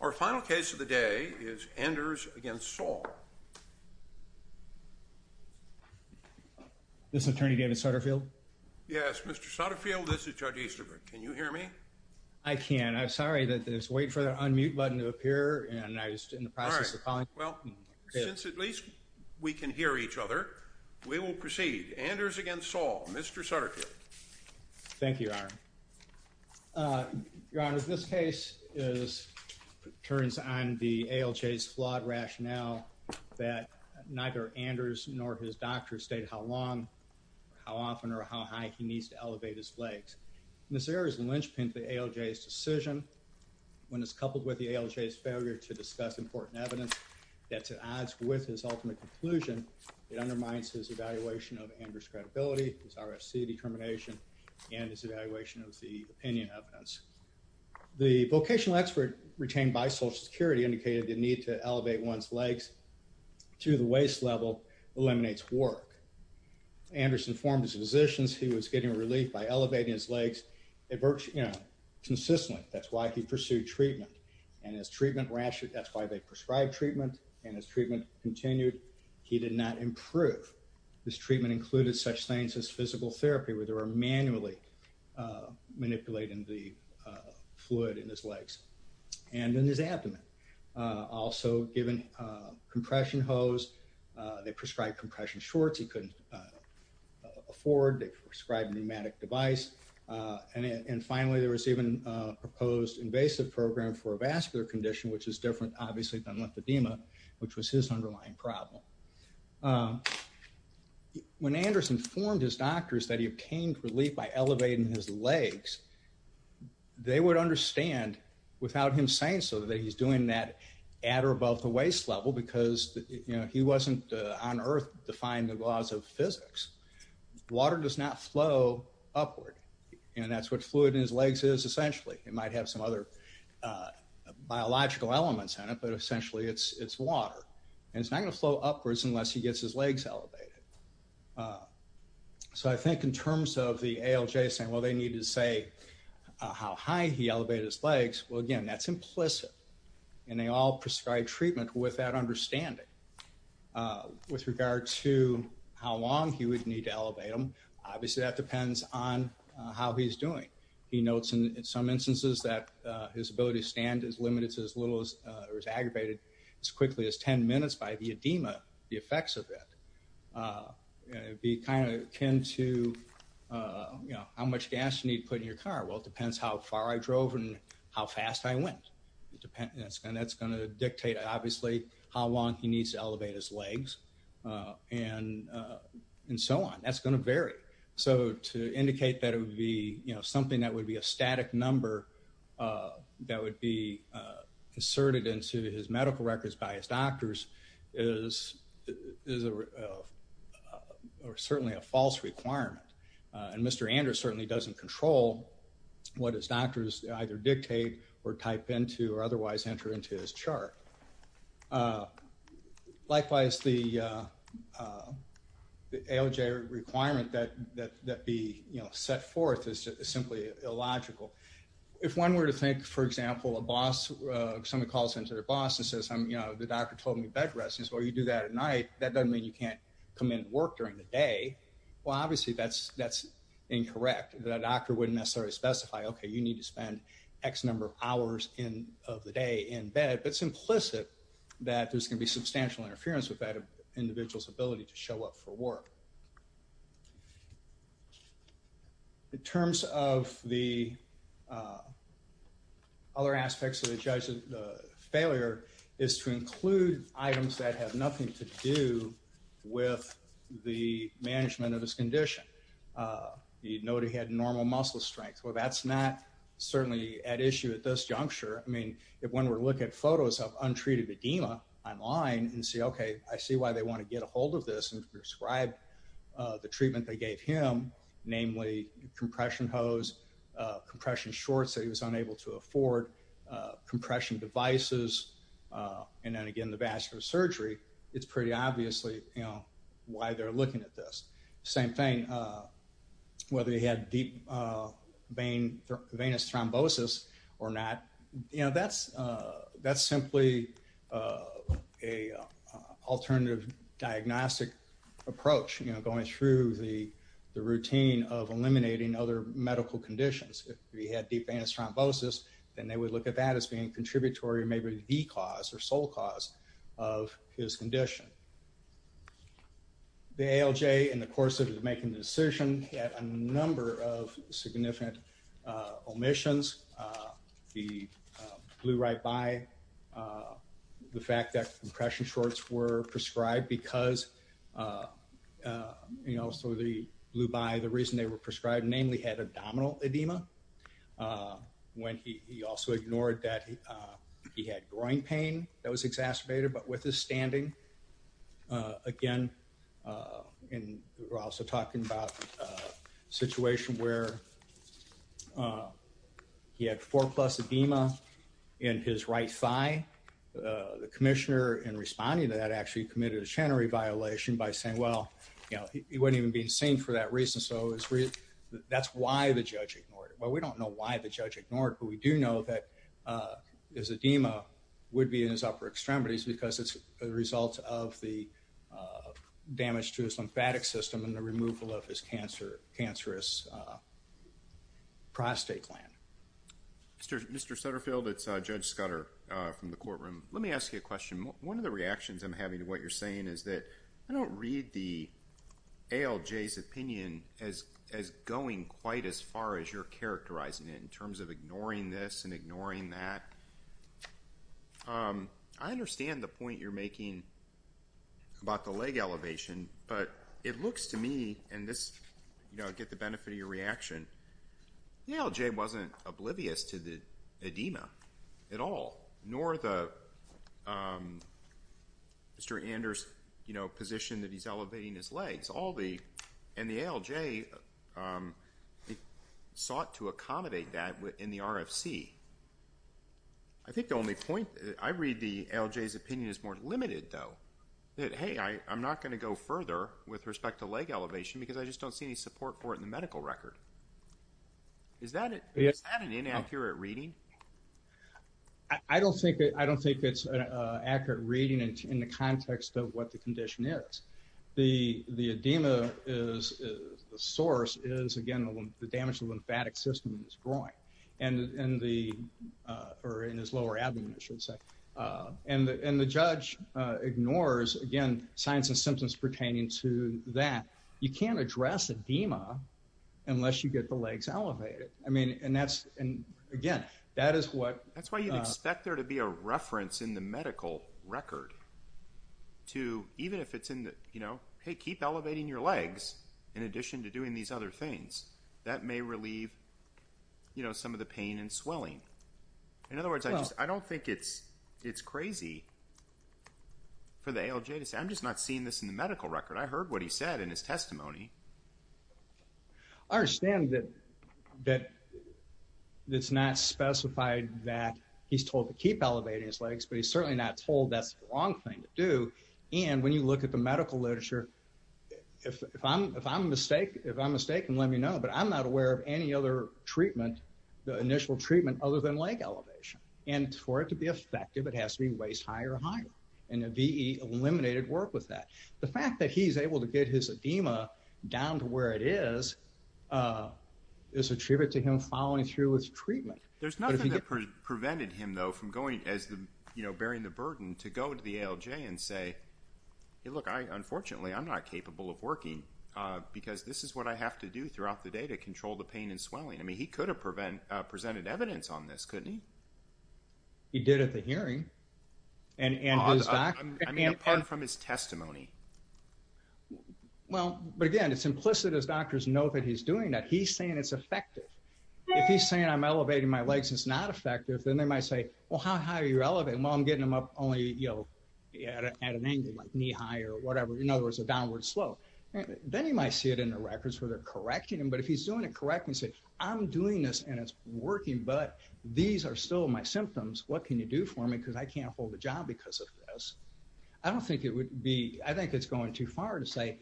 Our final case of the day is Anders v. Saul. Yes, Mr. Sutterfield, this is Judge Easterbrook, can you hear me? I can. I'm sorry, I was waiting for the unmute button to appear and I was in the process of calling you. Well, since at least we can hear each other, we will proceed. Anders v. Saul, Mr. Sutterfield. Thank you, Your Honor. Your Honor, this case turns on the ALJ's flawed rationale that neither Anders nor his doctor state how long, how often, or how high he needs to elevate his legs. This error is a linchpin to the ALJ's decision. When it's coupled with the ALJ's failure to discuss important evidence that's at odds with his ultimate conclusion, it undermines his evaluation of Anders' credibility, his RFC determination, and his evaluation of the opinion evidence. The vocational expert retained by Social Security indicated the need to elevate one's legs to the waist level eliminates work. Anders informed his physicians he was getting relief by elevating his legs consistently. That's why he pursued treatment, and his treatment, that's why they prescribed treatment, and his treatment continued. He did not improve. This treatment included such things as physical therapy, where they were manually manipulating the fluid in his legs and in his abdomen. Also given compression hose, they prescribed compression shorts he couldn't afford, they prescribed a pneumatic device, and finally, there was even a proposed invasive program for a vascular condition, which is different, obviously, than lymphedema, which was his underlying problem. When Anders informed his doctors that he obtained relief by elevating his legs, they would understand without him saying so that he's doing that at or above the waist level because he wasn't on earth to find the laws of physics. Water does not flow upward, and that's what fluid in his legs is, essentially. It might have some other biological elements in it, but essentially, it's water, and it's not going to flow upwards unless he gets his legs elevated. So I think in terms of the ALJ saying, well, they need to say how high he elevated his legs, well, again, that's implicit, and they all prescribed treatment with that understanding. With regard to how long he would need to elevate him, obviously, that depends on how he's doing. He notes in some instances that his ability to stand is limited to as little as, or is aggravated as quickly as 10 minutes by the edema, the effects of it. It would be kind of akin to how much gas you need to put in your car. Well, it depends how far I drove and how fast I went, and that's going to dictate, obviously, how long he needs to elevate his legs, and so on. That's going to vary. So to indicate that it would be something that would be a static number that would be asserted into his medical records by his doctors is certainly a false requirement, and Mr. Andrews certainly doesn't control what his doctors either dictate or type into or otherwise enter into his chart. Likewise, the ALJ requirement that be set forth is simply illogical. If one were to think, for example, a boss, somebody calls into their boss and says, you know, the doctor told me bed rest, well, you do that at night, that doesn't mean you can't come in and work during the day. Well, obviously, that's incorrect. The doctor wouldn't necessarily specify, okay, you need to spend X number of hours of the day in bed, but it's implicit that there's going to be substantial interference with that individual's ability to show up for work. In terms of the other aspects of the judge's failure is to include items that have nothing to do with the management of his condition. You'd note he had normal muscle strength. Well, that's not certainly at issue at this juncture. I mean, if one were to look at photos of untreated edema online and say, okay, I see why they want to get a hold of this and prescribe the treatment they gave him, namely compression hose, compression shorts that he was unable to afford, compression devices, and then again, the vascular surgery, it's pretty obviously, you know, why they're looking at this. Same thing, whether he had deep vein thrombosis or not, you know, that's simply an alternative diagnostic approach, you know, going through the routine of eliminating other medical conditions. If he had deep vein thrombosis, then they would look at that as being contributory, maybe the cause or sole cause of his condition. The ALJ, in the course of making the decision, had a number of significant omissions. The blue right by, the fact that compression shorts were prescribed because, you know, so the blue by, the reason they were prescribed, namely had abdominal edema, when he also ignored that he had groin pain that was exacerbated, but with his standing, again, and we're also talking about a situation where he had four plus edema in his right thigh. The commissioner, in responding to that, actually committed a shannery violation by saying, well, you know, he wasn't even being seen for that reason, so that's why the judge ignored it. Well, we don't know why the judge ignored it, but we do know that his edema would be in his upper extremities because it's a result of the damage to his lymphatic system and the removal of his cancerous prostate gland. Mr. Sutterfield, it's Judge Scudder from the courtroom. Let me ask you a question. One of the reactions I'm having to what you're saying is that I don't read the ALJ's opinion as going quite as far as you're characterizing it in terms of ignoring this and ignoring that. I understand the point you're making about the leg elevation, but it looks to me, and this, you know, I get the benefit of your reaction, the ALJ wasn't oblivious to the edema at all, nor the, Mr. Anders, you know, position that he's elevating his legs. All the, and the ALJ sought to accommodate that in the RFC. I think the only point, I read the ALJ's opinion as more limited, though, that, hey, I'm not going to go further with respect to leg elevation because I just don't see any support for it in the medical record. Is that an inaccurate reading? I don't think it's an accurate reading in the context of what the condition is. The edema is, the source is, again, the damage to the lymphatic system is growing. And the, or in his lower abdomen, I should say. And the judge ignores, again, signs and symptoms pertaining to that. You can't address edema unless you get the legs elevated. I mean, and that's, and again, that is what... I understand that, that it's not specified that he's told to keep elevating his legs, but he's certainly not told that's the wrong thing to do. And when you look at the medical literature, if I'm mistaken, let me know, but I'm not aware of any other treatment, the initial treatment, other than leg elevation. And for it to be effective, it has to be waist high or higher. And the VE eliminated work with that. The fact that he's able to get his edema down to where it is, is a tribute to him following through with treatment. There's nothing that prevented him, though, from going as the, you know, bearing the burden to go to the ALJ and say, hey, look, I, unfortunately, I'm not capable of working because this is what I have to do throughout the day to control the pain and swelling. I mean, he could have presented evidence on this, couldn't he? He did at the hearing. And his doctor... I mean, apart from his testimony. Well, but again, it's implicit as doctors know that he's doing that. He's saying it's effective. If he's saying, I'm elevating my legs, it's not effective, then they might say, well, how high are you elevating? Well, I'm getting them up only, you know, at an angle, like knee high or whatever. In other words, a downward slope. Then you might see it in the records where they're correcting him. But if he's doing it correctly and say, I'm doing this and it's working, but these are still my symptoms. What can you do for me? Because I can't hold a job because of this. I don't think it would be, I think it's going too far to say,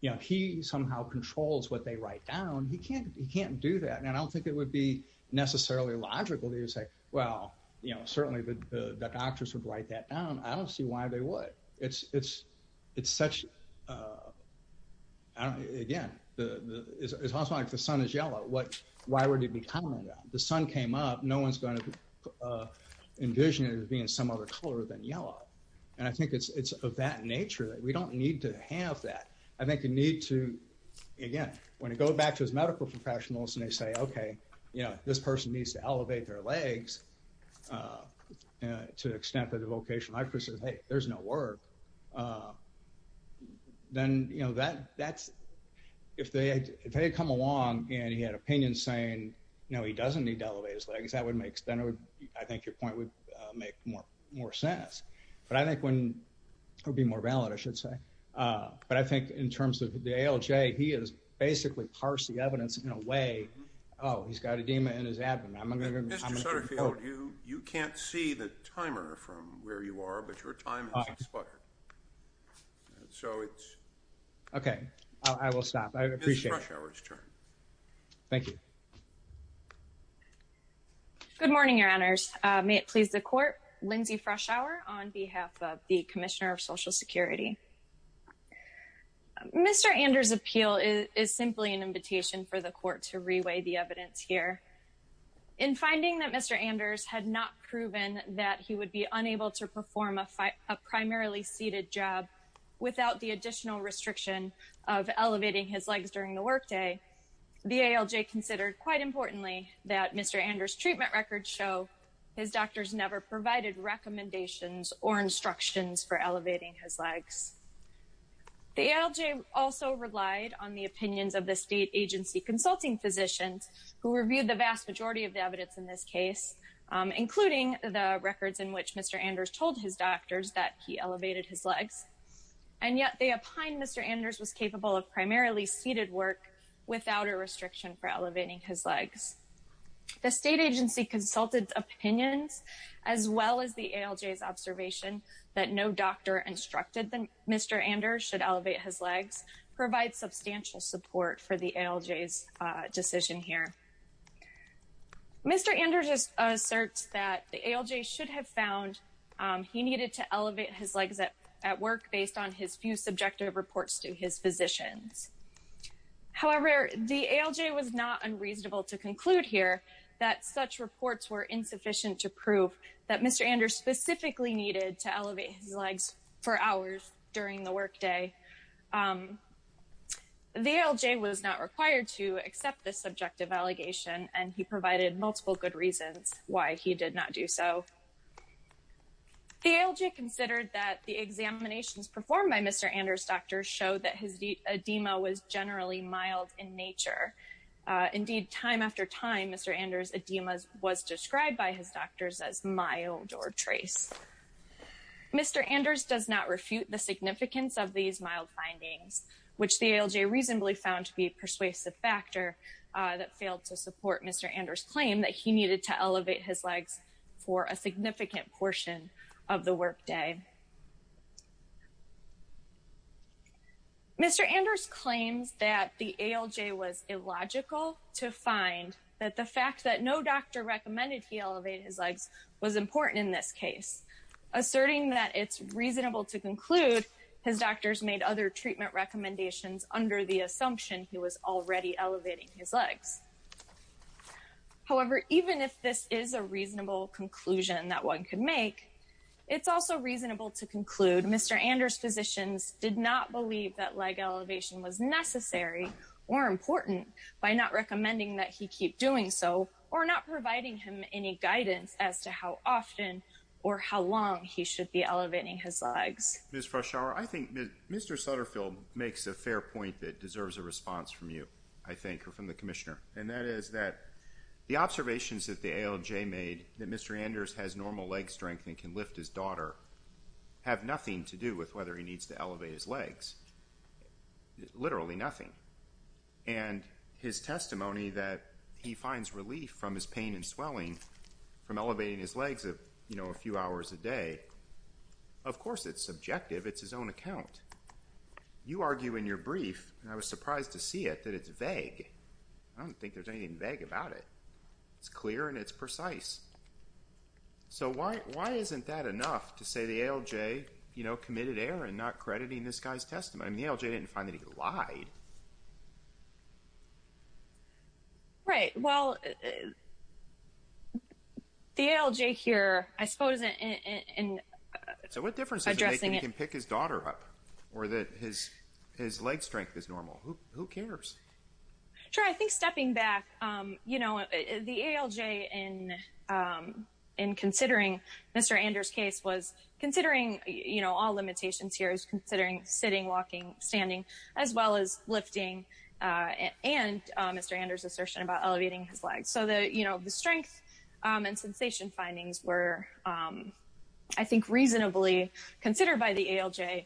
you know, he somehow controls what they write down. He can't, he can't do that. And I don't think it would be necessarily logical to say, well, you know, certainly the doctors would write that down. I don't see why they would. It's, it's, it's such a, I don't know, again, the, it's also like the sun is yellow. What, why would it be common? The sun came up. No one's going to envision it as being some other color than yellow. And I think it's, it's of that nature that we don't need to have that. I think you need to, again, when it goes back to his medical professionals and they say, okay, you know, this person needs to elevate their legs to the extent that the vocational high school says, hey, there's no work. Then you know, that, that's, if they had come along and he had opinions saying, no, he doesn't need to elevate his legs, that would make, then it would, I think your point would make more, more sense. But I think when, it would be more valid, I should say. But I think in terms of the ALJ, he has basically parsed the evidence in a way, oh, he's got edema in his abdomen. You can't see the timer from where you are, but your time is expired. So it's. Okay. I will stop. I appreciate it. It's Froshour's turn. Thank you. Good morning, your honors. May it please the court, Lindsay Froshour on behalf of the commissioner of social security. Mr. Anders' appeal is simply an invitation for the court to reweigh the evidence here. In finding that Mr. Anders had not proven that he would be unable to perform a primarily seated job without the additional restriction of elevating his legs during the workday, the ALJ considered, quite importantly, that Mr. Anders' treatment records show his doctors never provided recommendations or instructions for elevating his legs. The ALJ also relied on the opinions of the state agency consulting physicians who reviewed the vast majority of the evidence in this case, including the records in which Mr. Anders told his doctors that he elevated his legs. And yet, they opined Mr. Anders was capable of primarily seated work without a restriction for elevating his legs. The state agency consulted opinions as well as the ALJ's observation that no doctor instructed that Mr. Anders should elevate his legs provides substantial support for the ALJ's decision here. Mr. Anders asserts that the ALJ should have found he needed to elevate his legs at work based on his few subjective reports to his physicians. However, the ALJ was not unreasonable to conclude here that such reports were insufficient to prove that Mr. Anders specifically needed to elevate his legs for hours during the workday. The ALJ was not required to accept this subjective allegation and he provided multiple good reasons why he did not do so. The ALJ considered that the examinations performed by Mr. Anders' doctors showed that his edema was generally mild in nature. Indeed, time after time, Mr. Anders' edema was described by his doctors as mild or trace. Mr. Anders does not refute the significance of these mild findings, which the ALJ reasonably found to be a persuasive factor that failed to support Mr. Anders' claim that he needed to elevate his legs for a significant portion of the workday. Mr. Anders claims that the ALJ was illogical to find that the fact that no doctor recommended he elevate his legs was important in this case, asserting that it's reasonable to conclude his doctors made other treatment recommendations under the assumption he was already elevating his legs. However, even if this is a reasonable conclusion that one could make, it's also reasonable to conclude Mr. Anders' physicians did not believe that leg elevation was necessary or important by not recommending that he keep doing so or not providing him any guidance as to how often or how long he should be elevating his legs. Ms. Froshour, I think Mr. Sutterfield makes a fair point that deserves a response from you, I think, or from the Commissioner, and that is that the observations that the ALJ made that Mr. Anders has normal leg strength and can lift his daughter have nothing to do with whether he needs to elevate his legs, literally nothing. And his testimony that he finds relief from his pain and swelling from elevating his legs a few hours a day, of course it's subjective, it's his own account. You argue in your brief, and I was surprised to see it, that it's vague. I don't think there's anything vague about it. It's clear and it's precise. So why isn't that enough to say the ALJ committed error in not crediting this guy's testimony? I mean, the ALJ didn't find that he lied. Right, well, the ALJ here, I suppose, in addressing it… Or that his leg strength is normal. Who cares? Sure, I think stepping back, you know, the ALJ in considering Mr. Anders' case was considering, you know, all limitations here is considering sitting, walking, standing, as well as lifting, and Mr. Anders' assertion about elevating his legs. So the, you know, the strength and sensation findings were, I think, reasonably considered by the ALJ,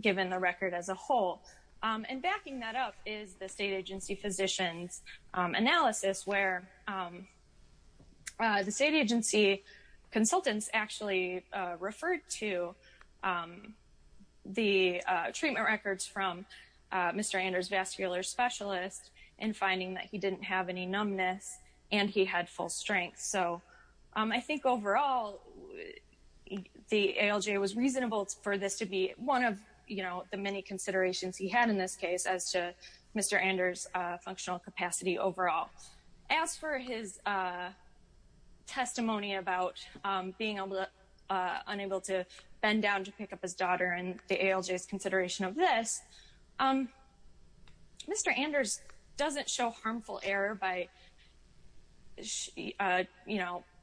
given the record as a whole. And backing that up is the state agency physician's analysis where the state agency consultants actually referred to the treatment records from Mr. Anders' vascular specialist in finding that he didn't have any numbness and he had full strength. So I think overall, the ALJ was reasonable for this to be one of, you know, the many considerations he had in this case as to Mr. Anders' functional capacity overall. As for his testimony about being unable to bend down to pick up his daughter and the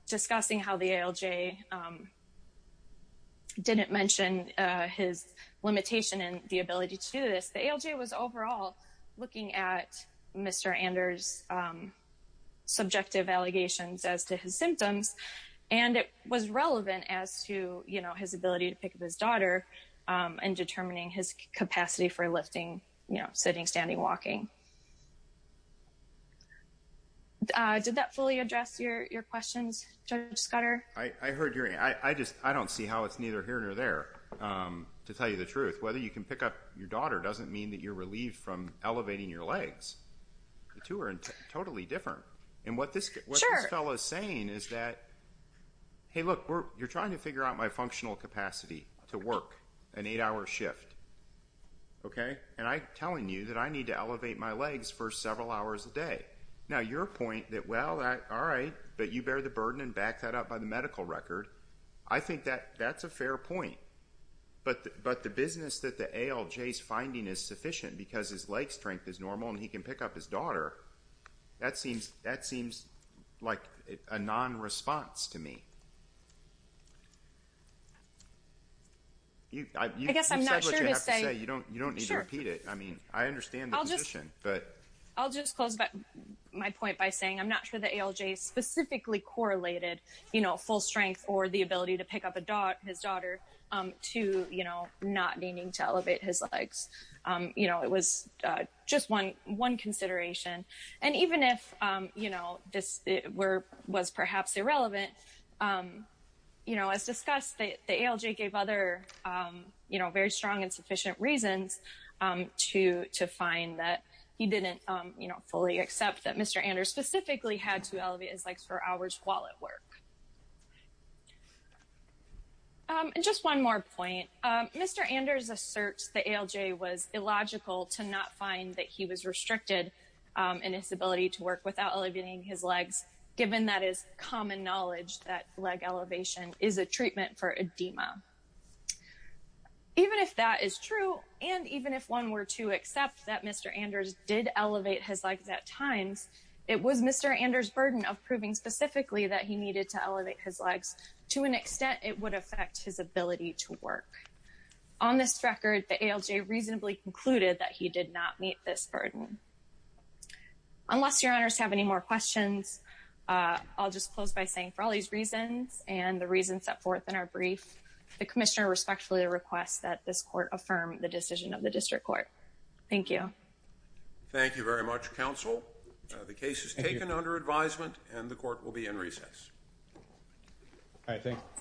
discussing how the ALJ didn't mention his limitation and the ability to do this, the ALJ was overall looking at Mr. Anders' subjective allegations as to his symptoms. And it was relevant as to, you know, his ability to pick up his daughter and determining his capacity for lifting, you know, sitting, standing, walking. Did that fully address your questions, Judge Scudder? I heard your, I just, I don't see how it's neither here nor there, to tell you the truth. Whether you can pick up your daughter doesn't mean that you're relieved from elevating your legs. The two are totally different. And what this fellow is saying is that, hey, look, you're trying to figure out my functional capacity to work an eight-hour shift, okay? And I'm telling you that I need to elevate my legs for several hours a day. Now, your point that, well, all right, but you bear the burden and back that up by the medical record, I think that that's a fair point. But the business that the ALJ's finding is sufficient because his leg strength is normal and he can pick up his daughter, that seems like a non-response to me. I guess I'm not sure what you have to say. You don't need to repeat it. I mean, I understand the position, but. I'll just close my point by saying I'm not sure the ALJ specifically correlated, you know, full strength or the ability to pick up his daughter to, you know, not needing to elevate his legs. You know, it was just one consideration. And even if, you know, this was perhaps irrelevant, you know, as discussed, the ALJ gave other, you know, very strong and sufficient reasons to find that he didn't, you know, fully accept that Mr. Anders specifically had to elevate his legs for hours while at work. And just one more point, Mr. Anders asserts the ALJ was illogical to not find that he was restricted in his ability to work without elevating his legs, given that is common knowledge that leg elevation is a treatment for edema. Even if that is true, and even if one were to accept that Mr. Anders did elevate his legs at times, it was Mr. Anders' burden of proving specifically that he needed to elevate his legs to an extent it would affect his ability to work. On this record, the ALJ reasonably concluded that he did not meet this burden. Unless your honors have any more questions, I'll just close by saying for all these reasons and the reasons set forth in our brief, the commissioner respectfully requests that this court affirm the decision of the district court. Thank you. Thank you very much, counsel. The case is taken under advisement and the court will be in recess. All right, thank you.